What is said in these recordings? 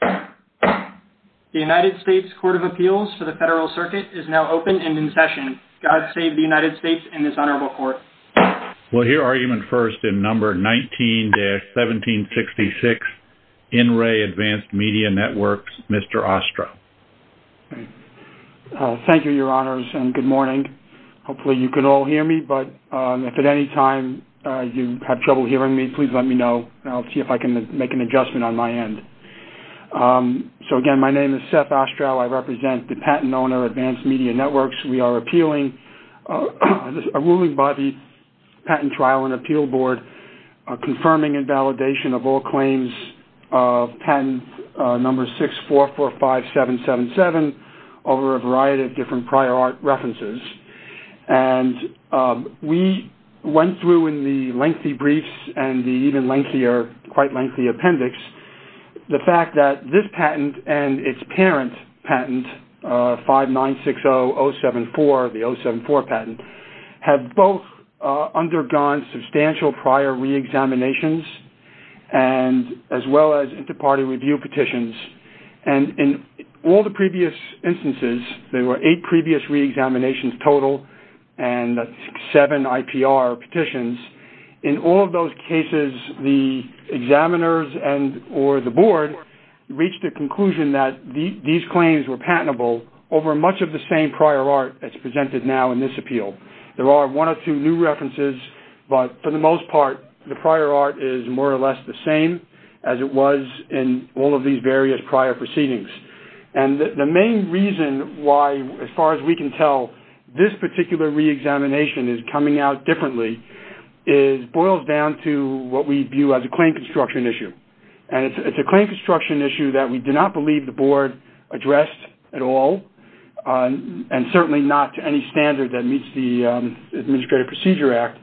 The United States Court of Appeals for the Federal Circuit is now open and in session. God save the United States and this Honorable Court. We'll hear argument first in Number 19-1766, In Re Advanced Media Networks, Mr. Ostro. Thank you, Your Honors, and good morning. Hopefully you can all hear me, but if at any time you have trouble hearing me, please let me know, and I'll see if I can make an adjustment on my end. So, again, my name is Seth Ostro. I represent the patent owner, Advanced Media Networks. We are appealing a ruling by the Patent Trial and Appeal Board confirming invalidation of all claims of Patent Number 6445777 over a variety of different prior art references. And we went through in the lengthy briefs and the even lengthier, quite lengthy appendix, the fact that this patent and its parent patent, 5960074, the 074 patent, have both undergone substantial prior reexaminations as well as interparty review petitions. And in all the previous instances, there were eight previous reexaminations total and seven IPR petitions. In all of those cases, the examiners or the board reached a conclusion that these claims were patentable over much of the same prior art as presented now in this appeal. There are one or two new references, but for the most part, the prior art is more or less the same as it was in all of these various prior proceedings. And the main reason why, as far as we can tell, this particular reexamination is coming out differently boils down to what we view as a claim construction issue. And it's a claim construction issue that we do not believe the board addressed at all and certainly not to any standard that meets the Administrative Procedure Act.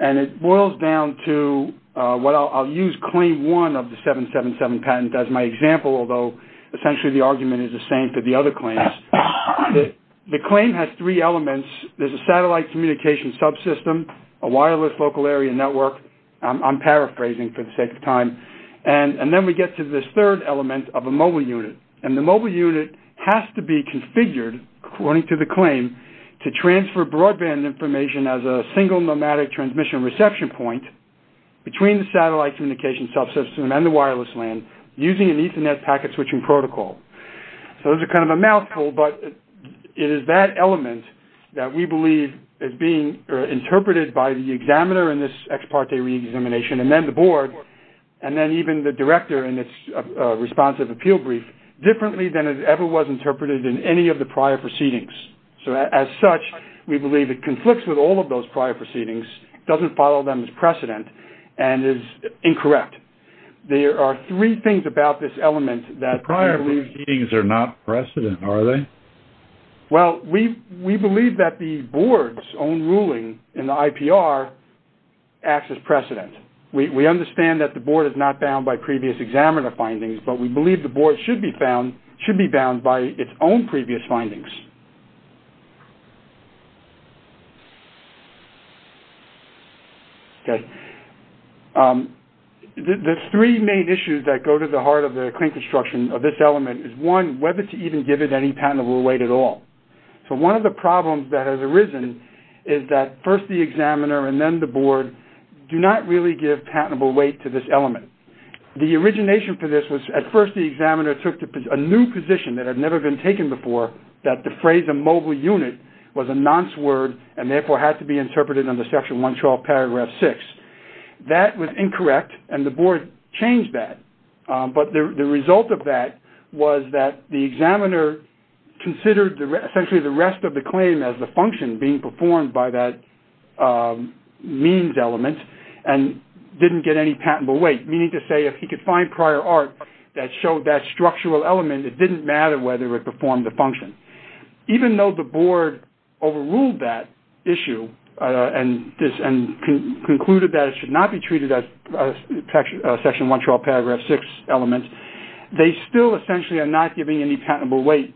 And it boils down to what I'll use claim one of the 777 patent as my example, although essentially the argument is the same for the other claims. The claim has three elements. There's a satellite communication subsystem, a wireless local area network. I'm paraphrasing for the sake of time. And then we get to this third element of a mobile unit. And the mobile unit has to be configured, according to the claim, to transfer broadband information as a single nomadic transmission reception point between the satellite communication subsystem and the wireless LAN using an Ethernet packet switching protocol. So those are kind of a mouthful, but it is that element that we believe is being interpreted by the examiner in this ex parte reexamination and then the board and then even the director in this responsive appeal brief differently than it ever was interpreted in any of the prior proceedings. So as such, we believe it conflicts with all of those prior proceedings, doesn't follow them as precedent, and is incorrect. There are three things about this element that we believe... The prior proceedings are not precedent, are they? Well, we believe that the board's own ruling in the IPR acts as precedent. We understand that the board is not bound by previous examiner findings, but we believe the board should be bound by its own previous findings. Okay. The three main issues that go to the heart of the claim construction of this element is, one, whether to even give it any patentable weight at all. So one of the problems that has arisen is that first the examiner and then the board do not really give patentable weight to this element. The origination for this was at first the examiner took a new position that had never been taken before, that the phrase immobile unit was a nonce word and therefore had to be interpreted under Section 112, Paragraph 6. That was incorrect and the board changed that. But the result of that was that the examiner considered essentially the rest of the claim as the function being performed by that means element and didn't get any patentable weight. Meaning to say if he could find prior art that showed that structural element, it didn't matter whether it performed the function. Even though the board overruled that issue and concluded that it should not be treated as Section 112, Paragraph 6 element, they still essentially are not giving any patentable weight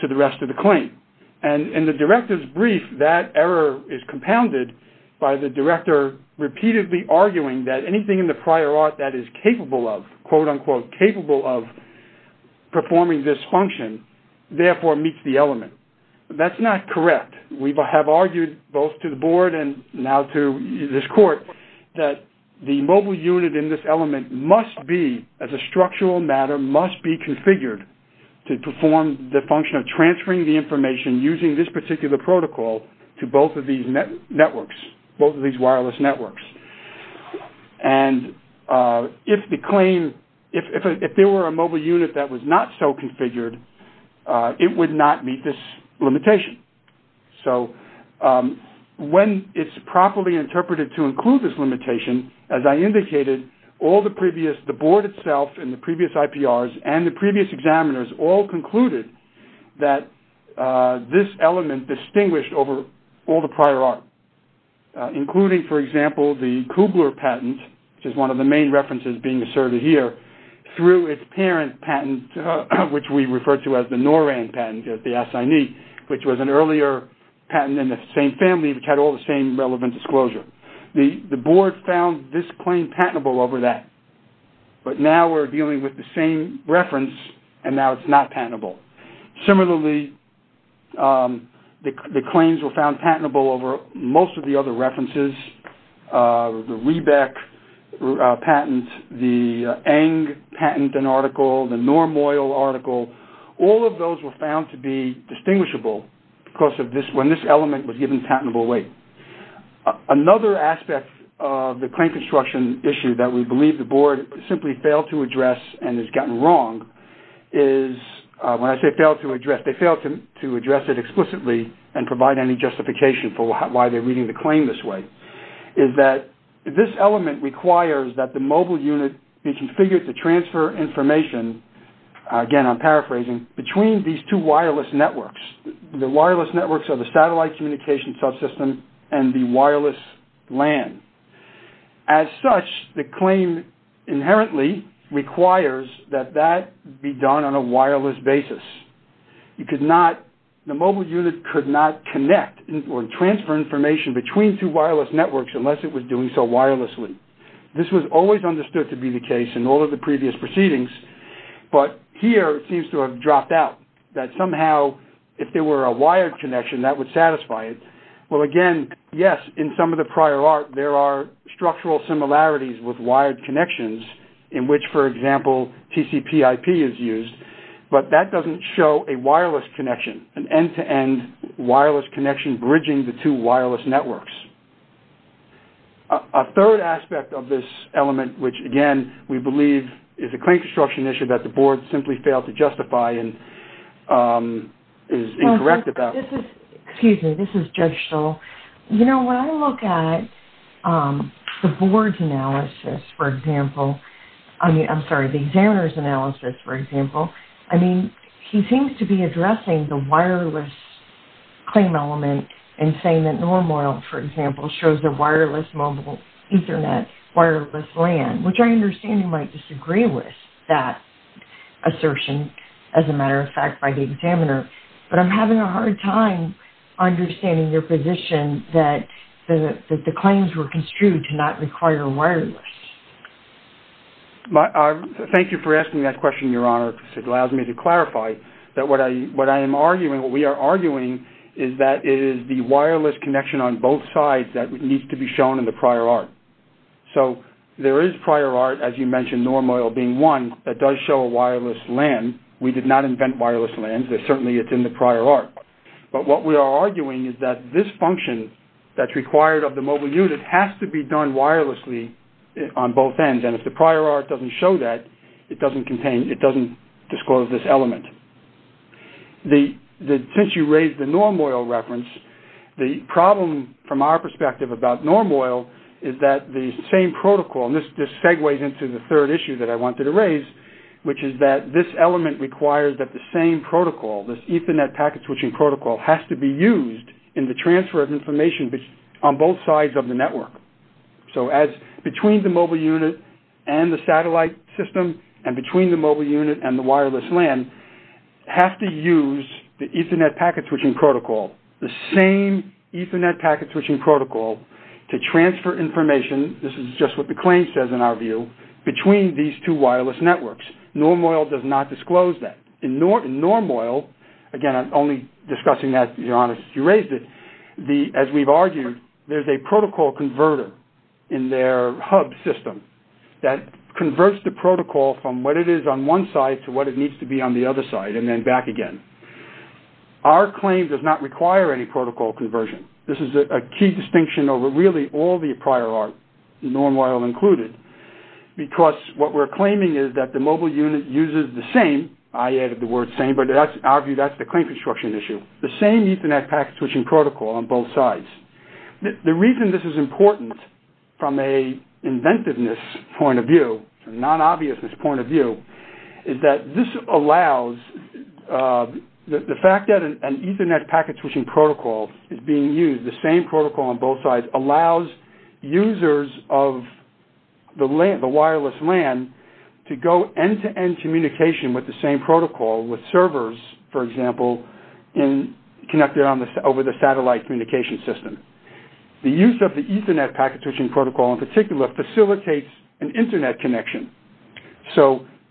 to the rest of the claim. And in the director's brief, that error is compounded by the director repeatedly arguing that anything in the prior art that is capable of, quote, unquote, capable of performing this function, therefore meets the element. That's not correct. We have argued both to the board and now to this court that the mobile unit in this element must be, as a structural matter, must be configured to perform the function of transferring the information using this particular protocol to both of these networks, both of these wireless networks. And if the claim, if there were a mobile unit that was not so configured, it would not meet this limitation. So when it's properly interpreted to include this limitation, as I indicated, all the previous, the board itself and the previous IPRs and the previous examiners all concluded that this element distinguished over all the prior art, including, for example, the Kugler patent, which is one of the main references being asserted here, through its parent patent, which we refer to as the Norand patent, the assignee, which was an earlier patent in the same family which had all the same relevant disclosure. The board found this claim patentable over that, but now we're dealing with the same reference and now it's not patentable. Similarly, the claims were found patentable over most of the other references, the Riebeck patent, the Eng patent, an article, the Norm Oil article. All of those were found to be distinguishable because of this, when this element was given patentable weight. Another aspect of the claim construction issue that we believe the board simply failed to address and has gotten wrong is, when I say failed to address, they failed to address it explicitly and provide any justification for why they're reading the claim this way, is that this element requires that the mobile unit be configured to transfer information, again I'm paraphrasing, between these two wireless networks. The wireless networks are the satellite communication subsystem and the wireless LAN. As such, the claim inherently requires that that be done on a wireless basis. The mobile unit could not connect or transfer information between two wireless networks unless it was doing so wirelessly. This was always understood to be the case in all of the previous proceedings, but here it seems to have dropped out, that somehow if there were a wired connection that would satisfy it. Well, again, yes, in some of the prior art there are structural similarities with wired connections in which, for example, TCPIP is used, but that doesn't show a wireless connection, an end-to-end wireless connection bridging the two wireless networks. A third aspect of this element which, again, we believe is a claim construction issue that the board simply failed to justify and is incorrect about. Excuse me, this is Judge Stoll. You know, when I look at the board's analysis, for example, I mean, I'm sorry, the examiner's analysis, for example, I mean, he seems to be addressing the wireless claim element and saying that Norm Oil, for example, shows a wireless mobile Ethernet wireless LAN, which I understand he might disagree with that assertion, as a matter of fact, by the examiner, but I'm having a hard time understanding your position that the claims were construed to not require wireless. Thank you for asking that question, Your Honor, because it allows me to clarify that what I am arguing, what we are arguing, is that it is the wireless connection on both sides that needs to be shown in the prior art. So there is prior art, as you mentioned, Norm Oil being one, that does show a wireless LAN. We did not invent wireless LANs, but certainly it's in the prior art. But what we are arguing is that this function that's required of the mobile unit has to be done wirelessly on both ends. And if the prior art doesn't show that, it doesn't disclose this element. Since you raised the Norm Oil reference, the problem from our perspective about Norm Oil is that the same protocol, and this segues into the third issue that I wanted to raise, which is that this element requires that the same protocol, this Ethernet packet-switching protocol, has to be used in the transfer of information on both sides of the network. So as between the mobile unit and the satellite system, and between the mobile unit and the wireless LAN, has to use the Ethernet packet-switching protocol, the same Ethernet packet-switching protocol, to transfer information, this is just what the claim says in our view, between these two wireless networks. Norm Oil does not disclose that. In Norm Oil, again, I'm only discussing that because you raised it, as we've argued, there's a protocol converter in their hub system that converts the protocol from what it is on one side to what it needs to be on the other side, and then back again. Our claim does not require any protocol conversion. This is a key distinction over really all the prior art, Norm Oil included, because what we're claiming is that the mobile unit uses the same, I added the word same, but in our view that's the claim construction issue, the same Ethernet packet-switching protocol on both sides. The reason this is important from an inventiveness point of view, a non-obviousness point of view, is that this allows the fact that an Ethernet packet-switching protocol is being used, the same protocol on both sides, allows users of the wireless LAN to go end-to-end communication with the same protocol, with servers, for example, connected over the satellite communication system. The use of the Ethernet packet-switching protocol, in particular, facilitates an Internet connection.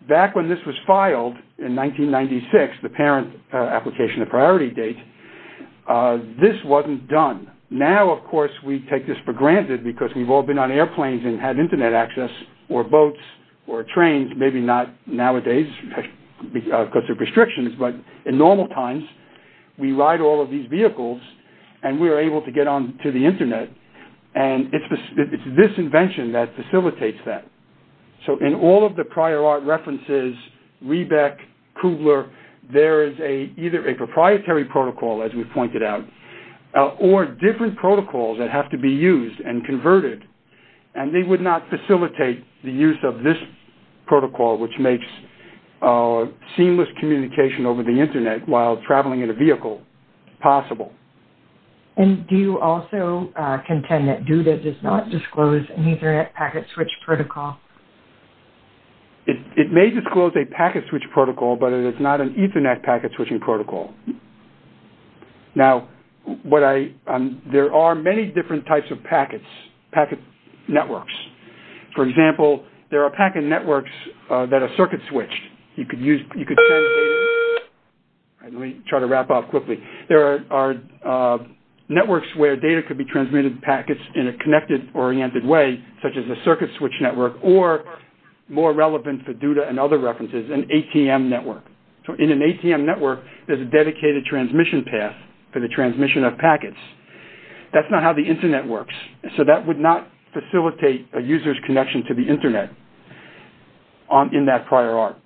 Back when this was filed in 1996, the parent application, the priority date, this wasn't done. Now, of course, we take this for granted because we've all been on airplanes and had Internet access, or boats, or trains, maybe not nowadays because of restrictions, but in normal times we ride all of these vehicles and we're able to get onto the Internet, and it's this invention that facilitates that. So, in all of the prior art references, Rebec, Kugler, there is either a proprietary protocol, as we pointed out, or different protocols that have to be used and converted, and they would not facilitate the use of this protocol, which makes seamless communication over the Internet while traveling in a vehicle possible. And do you also contend that DUDA does not disclose an Ethernet packet-switch protocol? It may disclose a packet-switch protocol, but it is not an Ethernet packet-switching protocol. Now, there are many different types of packets, packet networks. For example, there are packet networks that are circuit-switched. Let me try to wrap up quickly. There are networks where data could be transmitted packets in a connected, oriented way, such as a circuit-switched network, or, more relevant for DUDA and other references, an ATM network. So, in an ATM network, there's a dedicated transmission path for the transmission of packets. That's not how the Internet works, so that would not facilitate a user's connection to the Internet in that prior arc.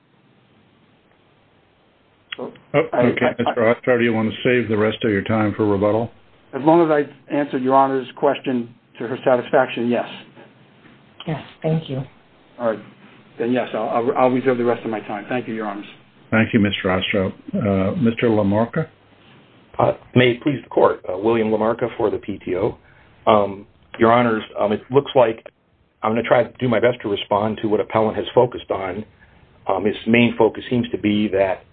Okay, Mr. Ostrow, do you want to save the rest of your time for rebuttal? As long as I've answered Your Honor's question to her satisfaction, yes. Yes, thank you. All right, then, yes, I'll reserve the rest of my time. Thank you, Your Honors. Thank you, Mr. Ostrow. Mr. LaMarca? May it please the Court, William LaMarca for the PTO. Your Honors, it looks like I'm going to try to do my best to respond to what Appellant has focused on. His main focus seems to be that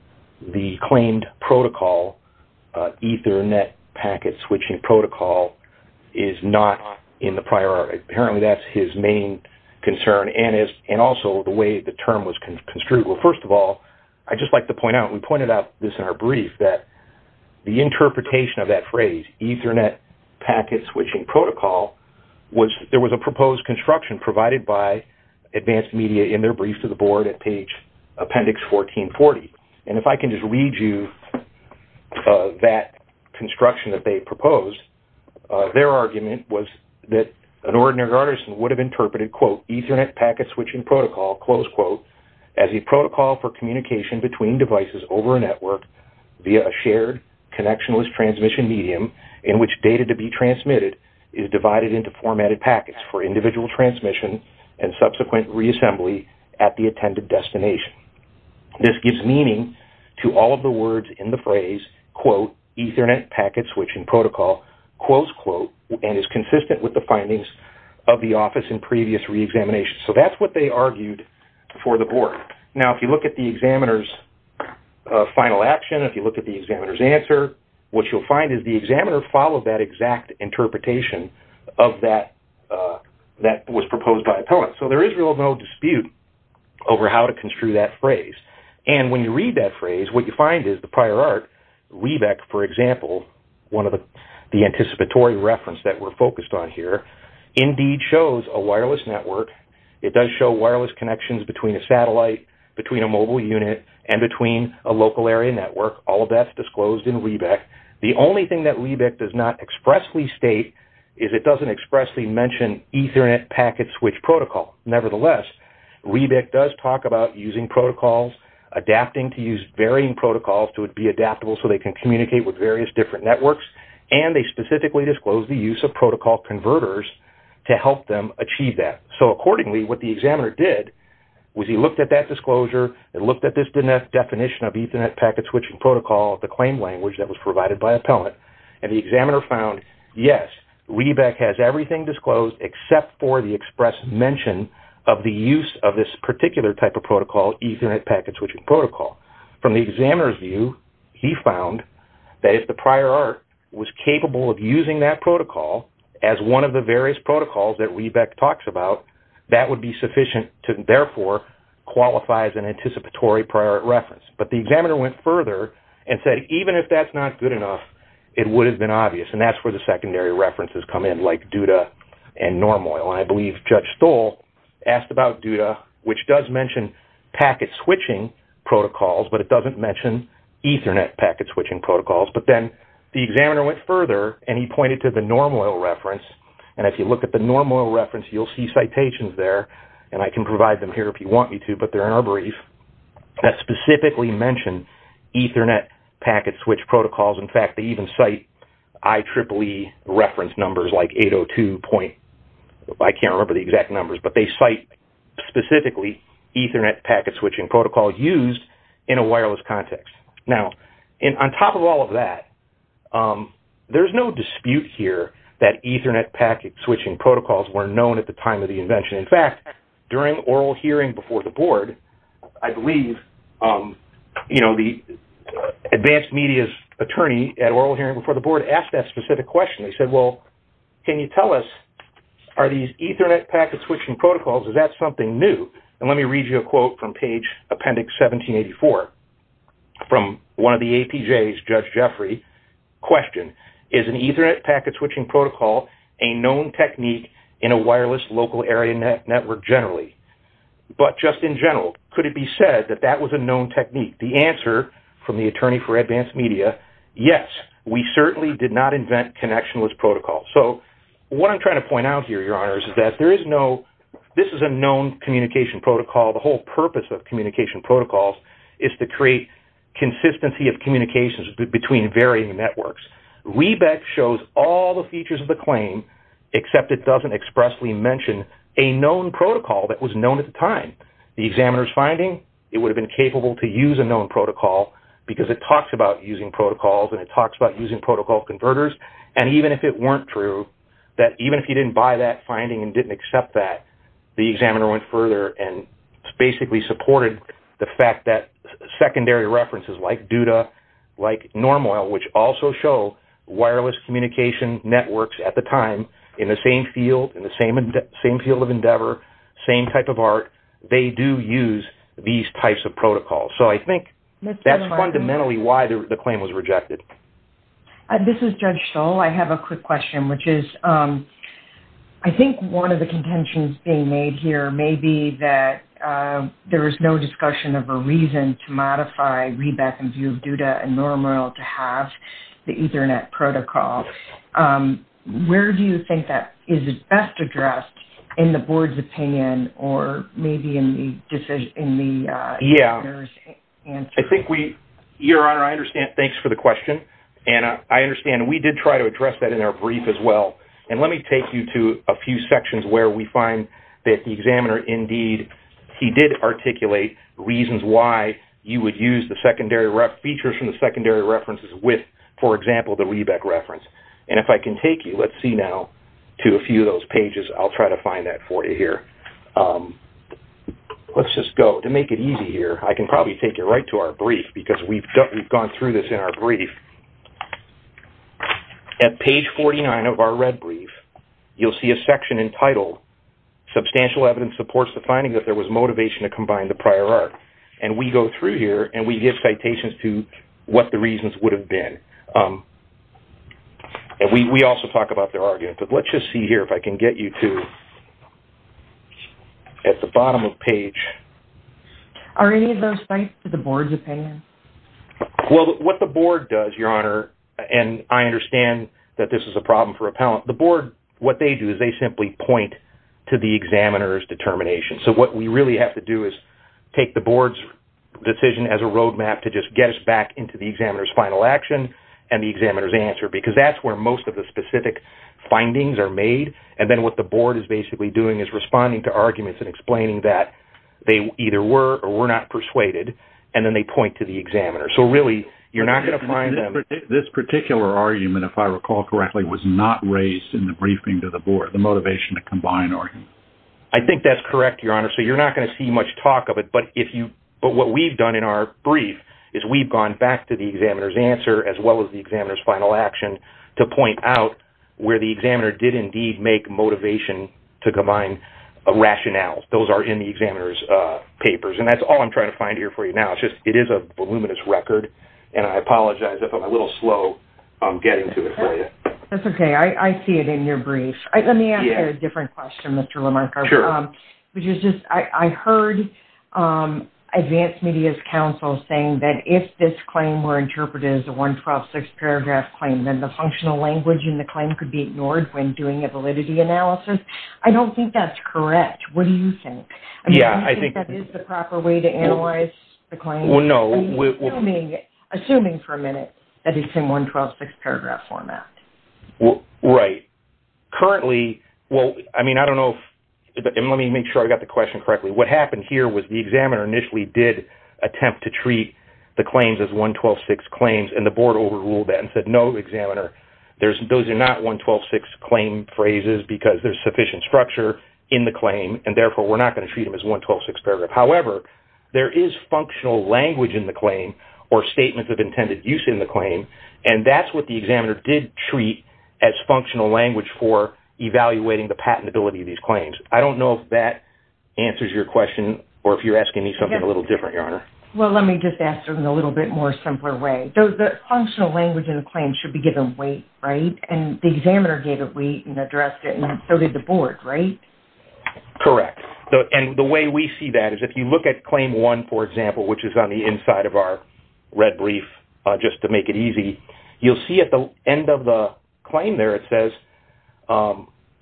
the claimed protocol, Ethernet packet-switching protocol, is not in the prior arc. Apparently, that's his main concern, and also the way the term was construed. Well, first of all, I'd just like to point out, and we pointed out this in our brief, that the interpretation of that phrase, Ethernet packet-switching protocol, there was a proposed construction provided by Advanced Media in their brief to the Board at page Appendix 1440. And if I can just read you that construction that they proposed, their argument was that an ordinary artisan would have interpreted, quote, as a protocol for communication between devices over a network via a shared connectionless transmission medium in which data to be transmitted is divided into formatted packets for individual transmission and subsequent reassembly at the attended destination. This gives meaning to all of the words in the phrase, quote, Ethernet packet-switching protocol, quote, quote, and is consistent with the findings of the Office in previous reexamination. So that's what they argued for the Board. Now, if you look at the examiner's final action, if you look at the examiner's answer, what you'll find is the examiner followed that exact interpretation of that that was proposed by Appellant. So there is really no dispute over how to construe that phrase. And when you read that phrase, what you find is the prior arc, Rebec, for example, one of the anticipatory reference that we're focused on here, indeed shows a wireless network. It does show wireless connections between a satellite, between a mobile unit, and between a local area network. All of that's disclosed in Rebec. The only thing that Rebec does not expressly state is it doesn't expressly mention Ethernet packet-switch protocol. Nevertheless, Rebec does talk about using protocols, adapting to use varying protocols to be adaptable so they can communicate with various different networks, and they specifically disclose the use of protocol converters to help them achieve that. So accordingly, what the examiner did was he looked at that disclosure and looked at this definition of Ethernet packet-switching protocol, the claim language that was provided by Appellant, and the examiner found, yes, Rebec has everything disclosed except for the express mention of the use of this particular type of protocol, Ethernet packet-switching protocol. From the examiner's view, he found that if the prior art was capable of using that protocol as one of the various protocols that Rebec talks about, that would be sufficient to, therefore, qualify as an anticipatory prior art reference. But the examiner went further and said, even if that's not good enough, it would have been obvious, and that's where the secondary references come in, like DUDA and NORML. And I believe Judge Stoll asked about DUDA, which does mention packet-switching protocols, but it doesn't mention Ethernet packet-switching protocols. But then the examiner went further, and he pointed to the NORML reference, and if you look at the NORML reference, you'll see citations there, and I can provide them here if you want me to, but they're in our brief, that specifically mention Ethernet packet-switch protocols. In fact, they even cite IEEE reference numbers like 802.... I can't remember the exact numbers, but they cite specifically Ethernet packet-switching protocols used in a wireless context. Now, on top of all of that, there's no dispute here that Ethernet packet-switching protocols were known at the time of the invention. In fact, during oral hearing before the board, I believe, you know, the advanced media's attorney at oral hearing before the board asked that specific question. He said, well, can you tell us, are these Ethernet packet-switching protocols, is that something new? And let me read you a quote from page Appendix 1784 from one of the APJs, Judge Jeffrey, the question, is an Ethernet packet-switching protocol a known technique in a wireless local area network generally? But just in general, could it be said that that was a known technique? The answer from the attorney for advanced media, yes, we certainly did not invent connectionless protocols. So what I'm trying to point out here, Your Honor, is that there is no... this is a known communication protocol. The whole purpose of communication protocols is to create consistency of communications between varying networks. Rebex shows all the features of the claim, except it doesn't expressly mention a known protocol that was known at the time. The examiner's finding, it would have been capable to use a known protocol because it talks about using protocols and it talks about using protocol converters. And even if it weren't true, that even if you didn't buy that finding and didn't accept that, the examiner went further and basically supported the fact that secondary references like Duda, like Normoil, which also show wireless communication networks at the time in the same field, in the same field of endeavor, same type of art, they do use these types of protocols. So I think that's fundamentally why the claim was rejected. This is Judge Stoll. I have a quick question, which is, I think one of the contentions being made here may be that there is no discussion of a reason to modify Rebex and View of Duda and Normoil to have the Ethernet protocol. Where do you think that is best addressed in the board's opinion or maybe in the decision... in the examiner's answer? I think we... Your Honor, I understand. Thanks for the question. And I understand we did try to address that in our brief as well. And let me take you to a few sections where we find that the examiner indeed, he did articulate reasons why you would use the secondary... features from the secondary references with, for example, the Rebex reference. And if I can take you, let's see now, to a few of those pages, I'll try to find that for you here. Let's just go. To make it easy here, I can probably take you right to our brief because we've gone through this in our brief. At page 49 of our red brief, you'll see a section entitled, Substantial Evidence Supports the Finding that There Was Motivation to Combine the Prior Art. And we go through here and we give citations to what the reasons would have been. And we also talk about their argument. But let's just see here if I can get you to... at the bottom of the page. Are any of those sites the board's opinion? Well, what the board does, Your Honor, and I understand that this is a problem for appellant. The board, what they do is they simply point to the examiner's determination. So what we really have to do is take the board's decision as a roadmap to just get us back into the examiner's final action. And the examiner's answer, because that's where most of the specific findings are made. And then what the board is basically doing is responding to arguments and explaining that they either were or were not persuaded. And then they point to the examiner. So really, you're not going to find them... This particular argument, if I recall correctly, was not raised in the briefing to the board, the motivation to combine arguments. I think that's correct, Your Honor. So you're not going to see much talk of it. But what we've done in our brief is we've gone back to the examiner's answer as well as the examiner's final action to point out where the examiner did indeed make motivation to combine a rationale. Those are in the examiner's papers. And that's all I'm trying to find here for you now. It is a voluminous record, and I apologize if I'm a little slow getting to it for you. That's okay. I see it in your brief. Let me ask you a different question, Mr. Lamarck. Sure. I heard Advanced Media's counsel saying that if this claim were interpreted as a 112-6 paragraph claim, then the functional language in the claim could be ignored when doing a validity analysis. I don't think that's correct. What do you think? Yeah, I think... Do you think that is the proper way to analyze the claim? Well, no. Assuming for a minute that it's in 112-6 paragraph format. Right. Currently... Well, I mean, I don't know if... And let me make sure I got the question correctly. What happened here was the examiner initially did attempt to treat the claims as 112-6 claims, and the board overruled that and said, no, examiner, those are not 112-6 claim phrases because there's sufficient structure in the claim, and therefore we're not going to treat them as 112-6 paragraph. However, there is functional language in the claim or statements of intended use in the claim, and that's what the examiner did treat as functional language for evaluating the patentability of these claims. I don't know if that answers your question or if you're asking me something a little different, Your Honor. Well, let me just ask it in a little bit more simpler way. The functional language in the claim should be given weight, right? And the examiner gave it weight and addressed it, and so did the board, right? Correct. And the way we see that is if you look at Claim 1, for example, which is on the inside of our red brief just to make it easy, you'll see at the end of the claim there it says,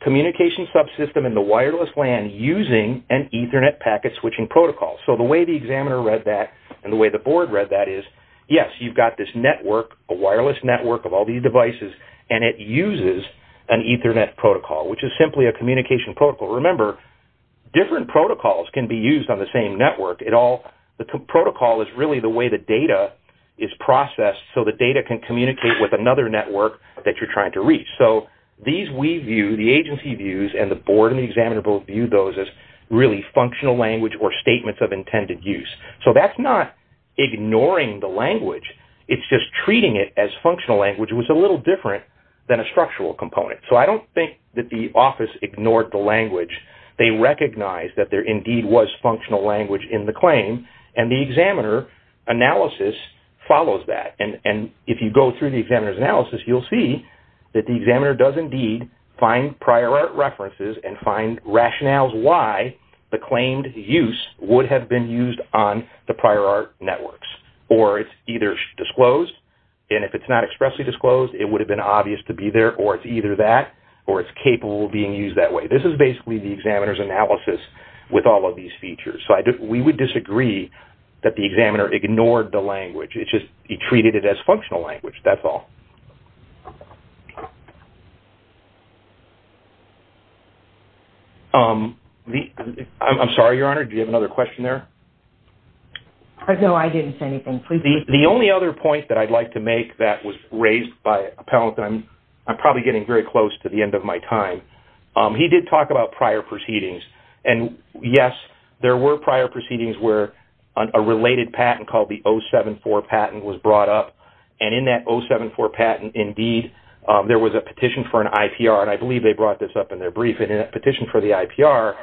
communication subsystem in the wireless LAN using an Ethernet packet switching protocol. So the way the examiner read that and the way the board read that is, yes, you've got this network, a wireless network of all these devices, and it uses an Ethernet protocol, which is simply a communication protocol. Remember, different protocols can be used on the same network. The protocol is really the way the data is processed so the data can communicate with another network that you're trying to reach. So these we view, the agency views, and the board and the examiner both view those as really functional language or statements of intended use. So that's not ignoring the language. It's just treating it as functional language. It was a little different than a structural component. So I don't think that the office ignored the language. They recognized that there indeed was functional language in the claim, and the examiner analysis follows that. And if you go through the examiner's analysis, you'll see that the examiner does indeed find prior art references and find rationales why the claimed use would have been used on the prior art networks. Or it's either disclosed, and if it's not expressly disclosed, it would have been obvious to be there, or it's either that, or it's capable of being used that way. This is basically the examiner's analysis with all of these features. So we would disagree that the examiner ignored the language. It's just he treated it as functional language. That's all. I'm sorry, Your Honor. Did you have another question there? No, I didn't say anything. The only other point that I'd like to make that was raised by a panelist, and I'm probably getting very close to the end of my time. He did talk about prior proceedings. And, yes, there were prior proceedings where a related patent called the 074 patent was brought up, and in that 074 patent, indeed, there was a petition for an IPR, and I believe they brought this up in their brief, and in that petition for the IPR,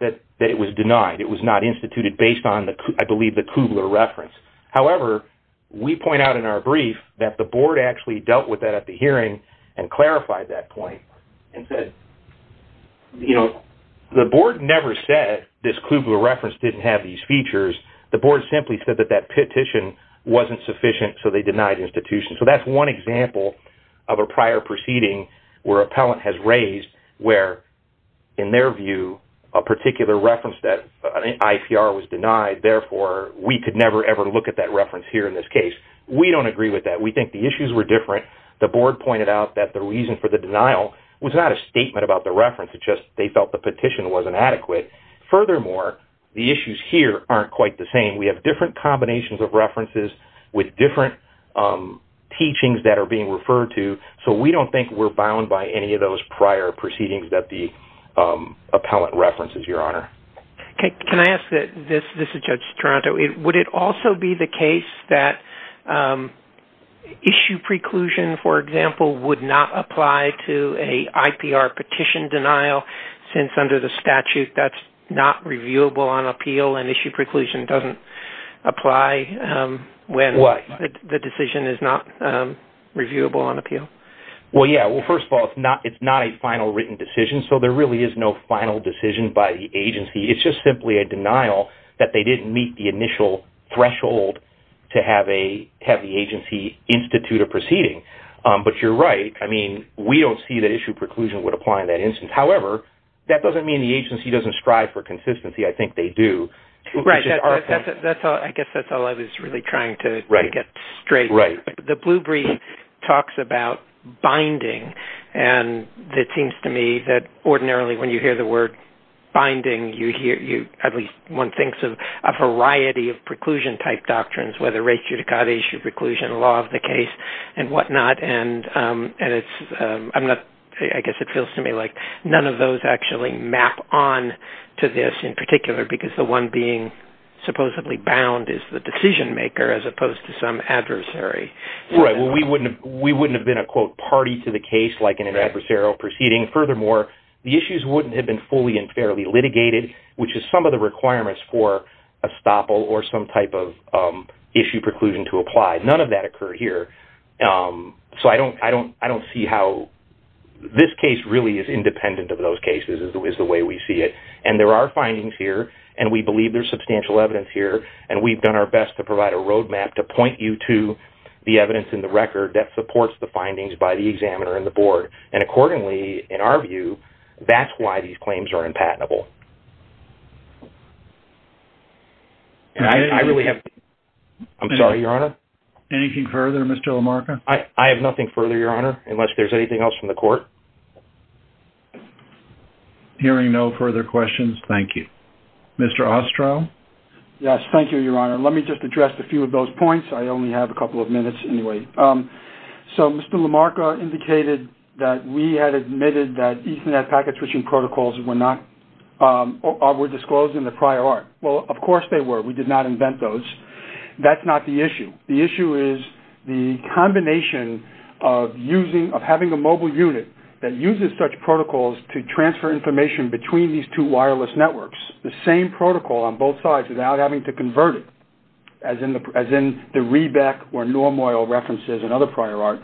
that it was denied. It was not instituted based on, I believe, the Kubler reference. However, we point out in our brief that the board actually dealt with that at the hearing and clarified that point and said, you know, the board never said this Kluger reference didn't have these features. The board simply said that that petition wasn't sufficient, so they denied the institution. So that's one example of a prior proceeding where an appellant has raised where, in their view, a particular reference that an IPR was denied, therefore, we could never, ever look at that reference here in this case. We don't agree with that. We think the issues were different. The board pointed out that the reason for the denial was not a statement about the reference. It's just they felt the petition wasn't adequate. Furthermore, the issues here aren't quite the same. We have different combinations of references with different teachings that are being referred to, so we don't think we're bound by any of those prior proceedings that the appellant references, Your Honor. Can I ask this? This is Judge Toronto. Would it also be the case that issue preclusion, for example, would not apply to an IPR petition denial since under the statute that's not reviewable on appeal and issue preclusion doesn't apply when the decision is not reviewable on appeal? Well, yeah. Well, first of all, it's not a final written decision, so there really is no final decision by the agency. It's just simply a denial that they didn't meet the initial threshold to have the agency institute a proceeding. But you're right. I mean, we don't see that issue preclusion would apply in that instance. However, that doesn't mean the agency doesn't strive for consistency. I think they do. Right. I guess that's all I was really trying to get straight. Right. The blue brief talks about binding, and it seems to me that ordinarily when you hear the word binding, at least one thinks of a variety of preclusion-type doctrines, whether race, judicata, issue preclusion, law of the case, and whatnot. And I guess it feels to me like none of those actually map on to this in particular because the one being supposedly bound is the decision-maker as opposed to some adversary. Right. Well, we wouldn't have been a, quote, party to the case like in an adversarial proceeding. Furthermore, the issues wouldn't have been fully and fairly litigated, which is some of the requirements for estoppel or some type of issue preclusion to apply. None of that occurred here. So I don't see how this case really is independent of those cases is the way we see it. And there are findings here, and we believe there's substantial evidence here, and we've done our best to provide a road map to point you to the evidence in the record that supports the findings by the examiner and the board. And accordingly, in our view, that's why these claims are impatinable. I really have to—I'm sorry, Your Honor? Anything further, Mr. LaMarca? I have nothing further, Your Honor, unless there's anything else from the court. Hearing no further questions, thank you. Mr. Ostrow? Yes, thank you, Your Honor. Let me just address a few of those points. I only have a couple of minutes anyway. So Mr. LaMarca indicated that we had admitted that Ethernet packet switching protocols were not— were disclosed in the prior art. Well, of course they were. We did not invent those. That's not the issue. The issue is the combination of using—of having a mobile unit that uses such protocols to transfer information between these two wireless networks, the same protocol on both sides without having to convert it, as in the Rebec or Norm Oil references in other prior art,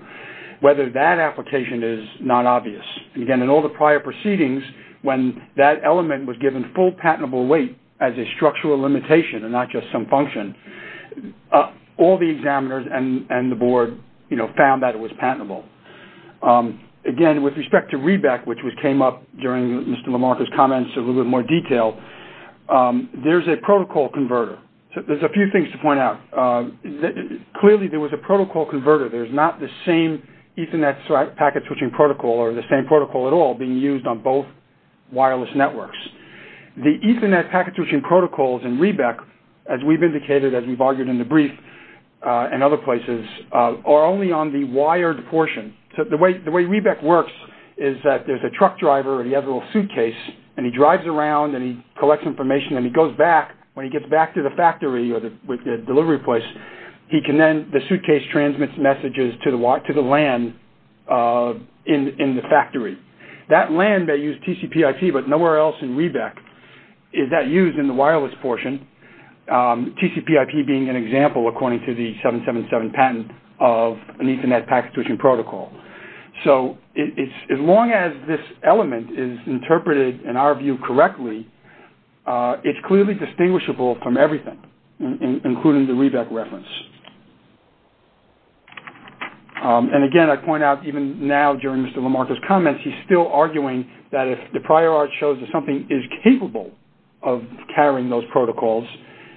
whether that application is not obvious. Again, in all the prior proceedings, when that element was given full patentable weight as a structural limitation and not just some function, all the examiners and the board, you know, found that it was patentable. Again, with respect to Rebec, which came up during Mr. LaMarca's comments in a little bit more detail, there's a protocol converter. There's a few things to point out. Clearly there was a protocol converter. There's not the same Ethernet packet switching protocol or the same protocol at all being used on both wireless networks. The Ethernet packet switching protocols in Rebec, as we've indicated, as we've argued in the brief in other places, are only on the wired portion. So the way Rebec works is that there's a truck driver and he has a little suitcase, and he drives around and he collects information and he goes back. When he gets back to the factory or the delivery place, he can then—the suitcase transmits messages to the LAN in the factory. That LAN may use TCPIP, but nowhere else in Rebec is that used in the wireless portion, TCPIP being an example, according to the 777 patent of an Ethernet packet switching protocol. So as long as this element is interpreted in our view correctly, it's clearly distinguishable from everything, including the Rebec reference. And again, I point out even now during Mr. Lamarcka's comments, he's still arguing that if the prior art shows that something is capable of carrying those protocols,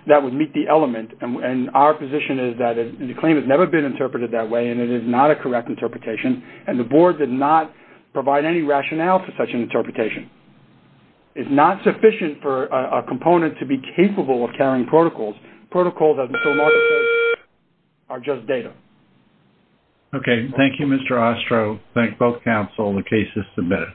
that would meet the element. And our position is that the claim has never been interpreted that way and it is not a correct interpretation, and the board did not provide any rationale for such an interpretation. It's not sufficient for a component to be capable of carrying protocols. Protocols, as Mr. Lamarcka said, are just data. Okay, thank you, Mr. Ostro. Thank both counsel. The case is submitted.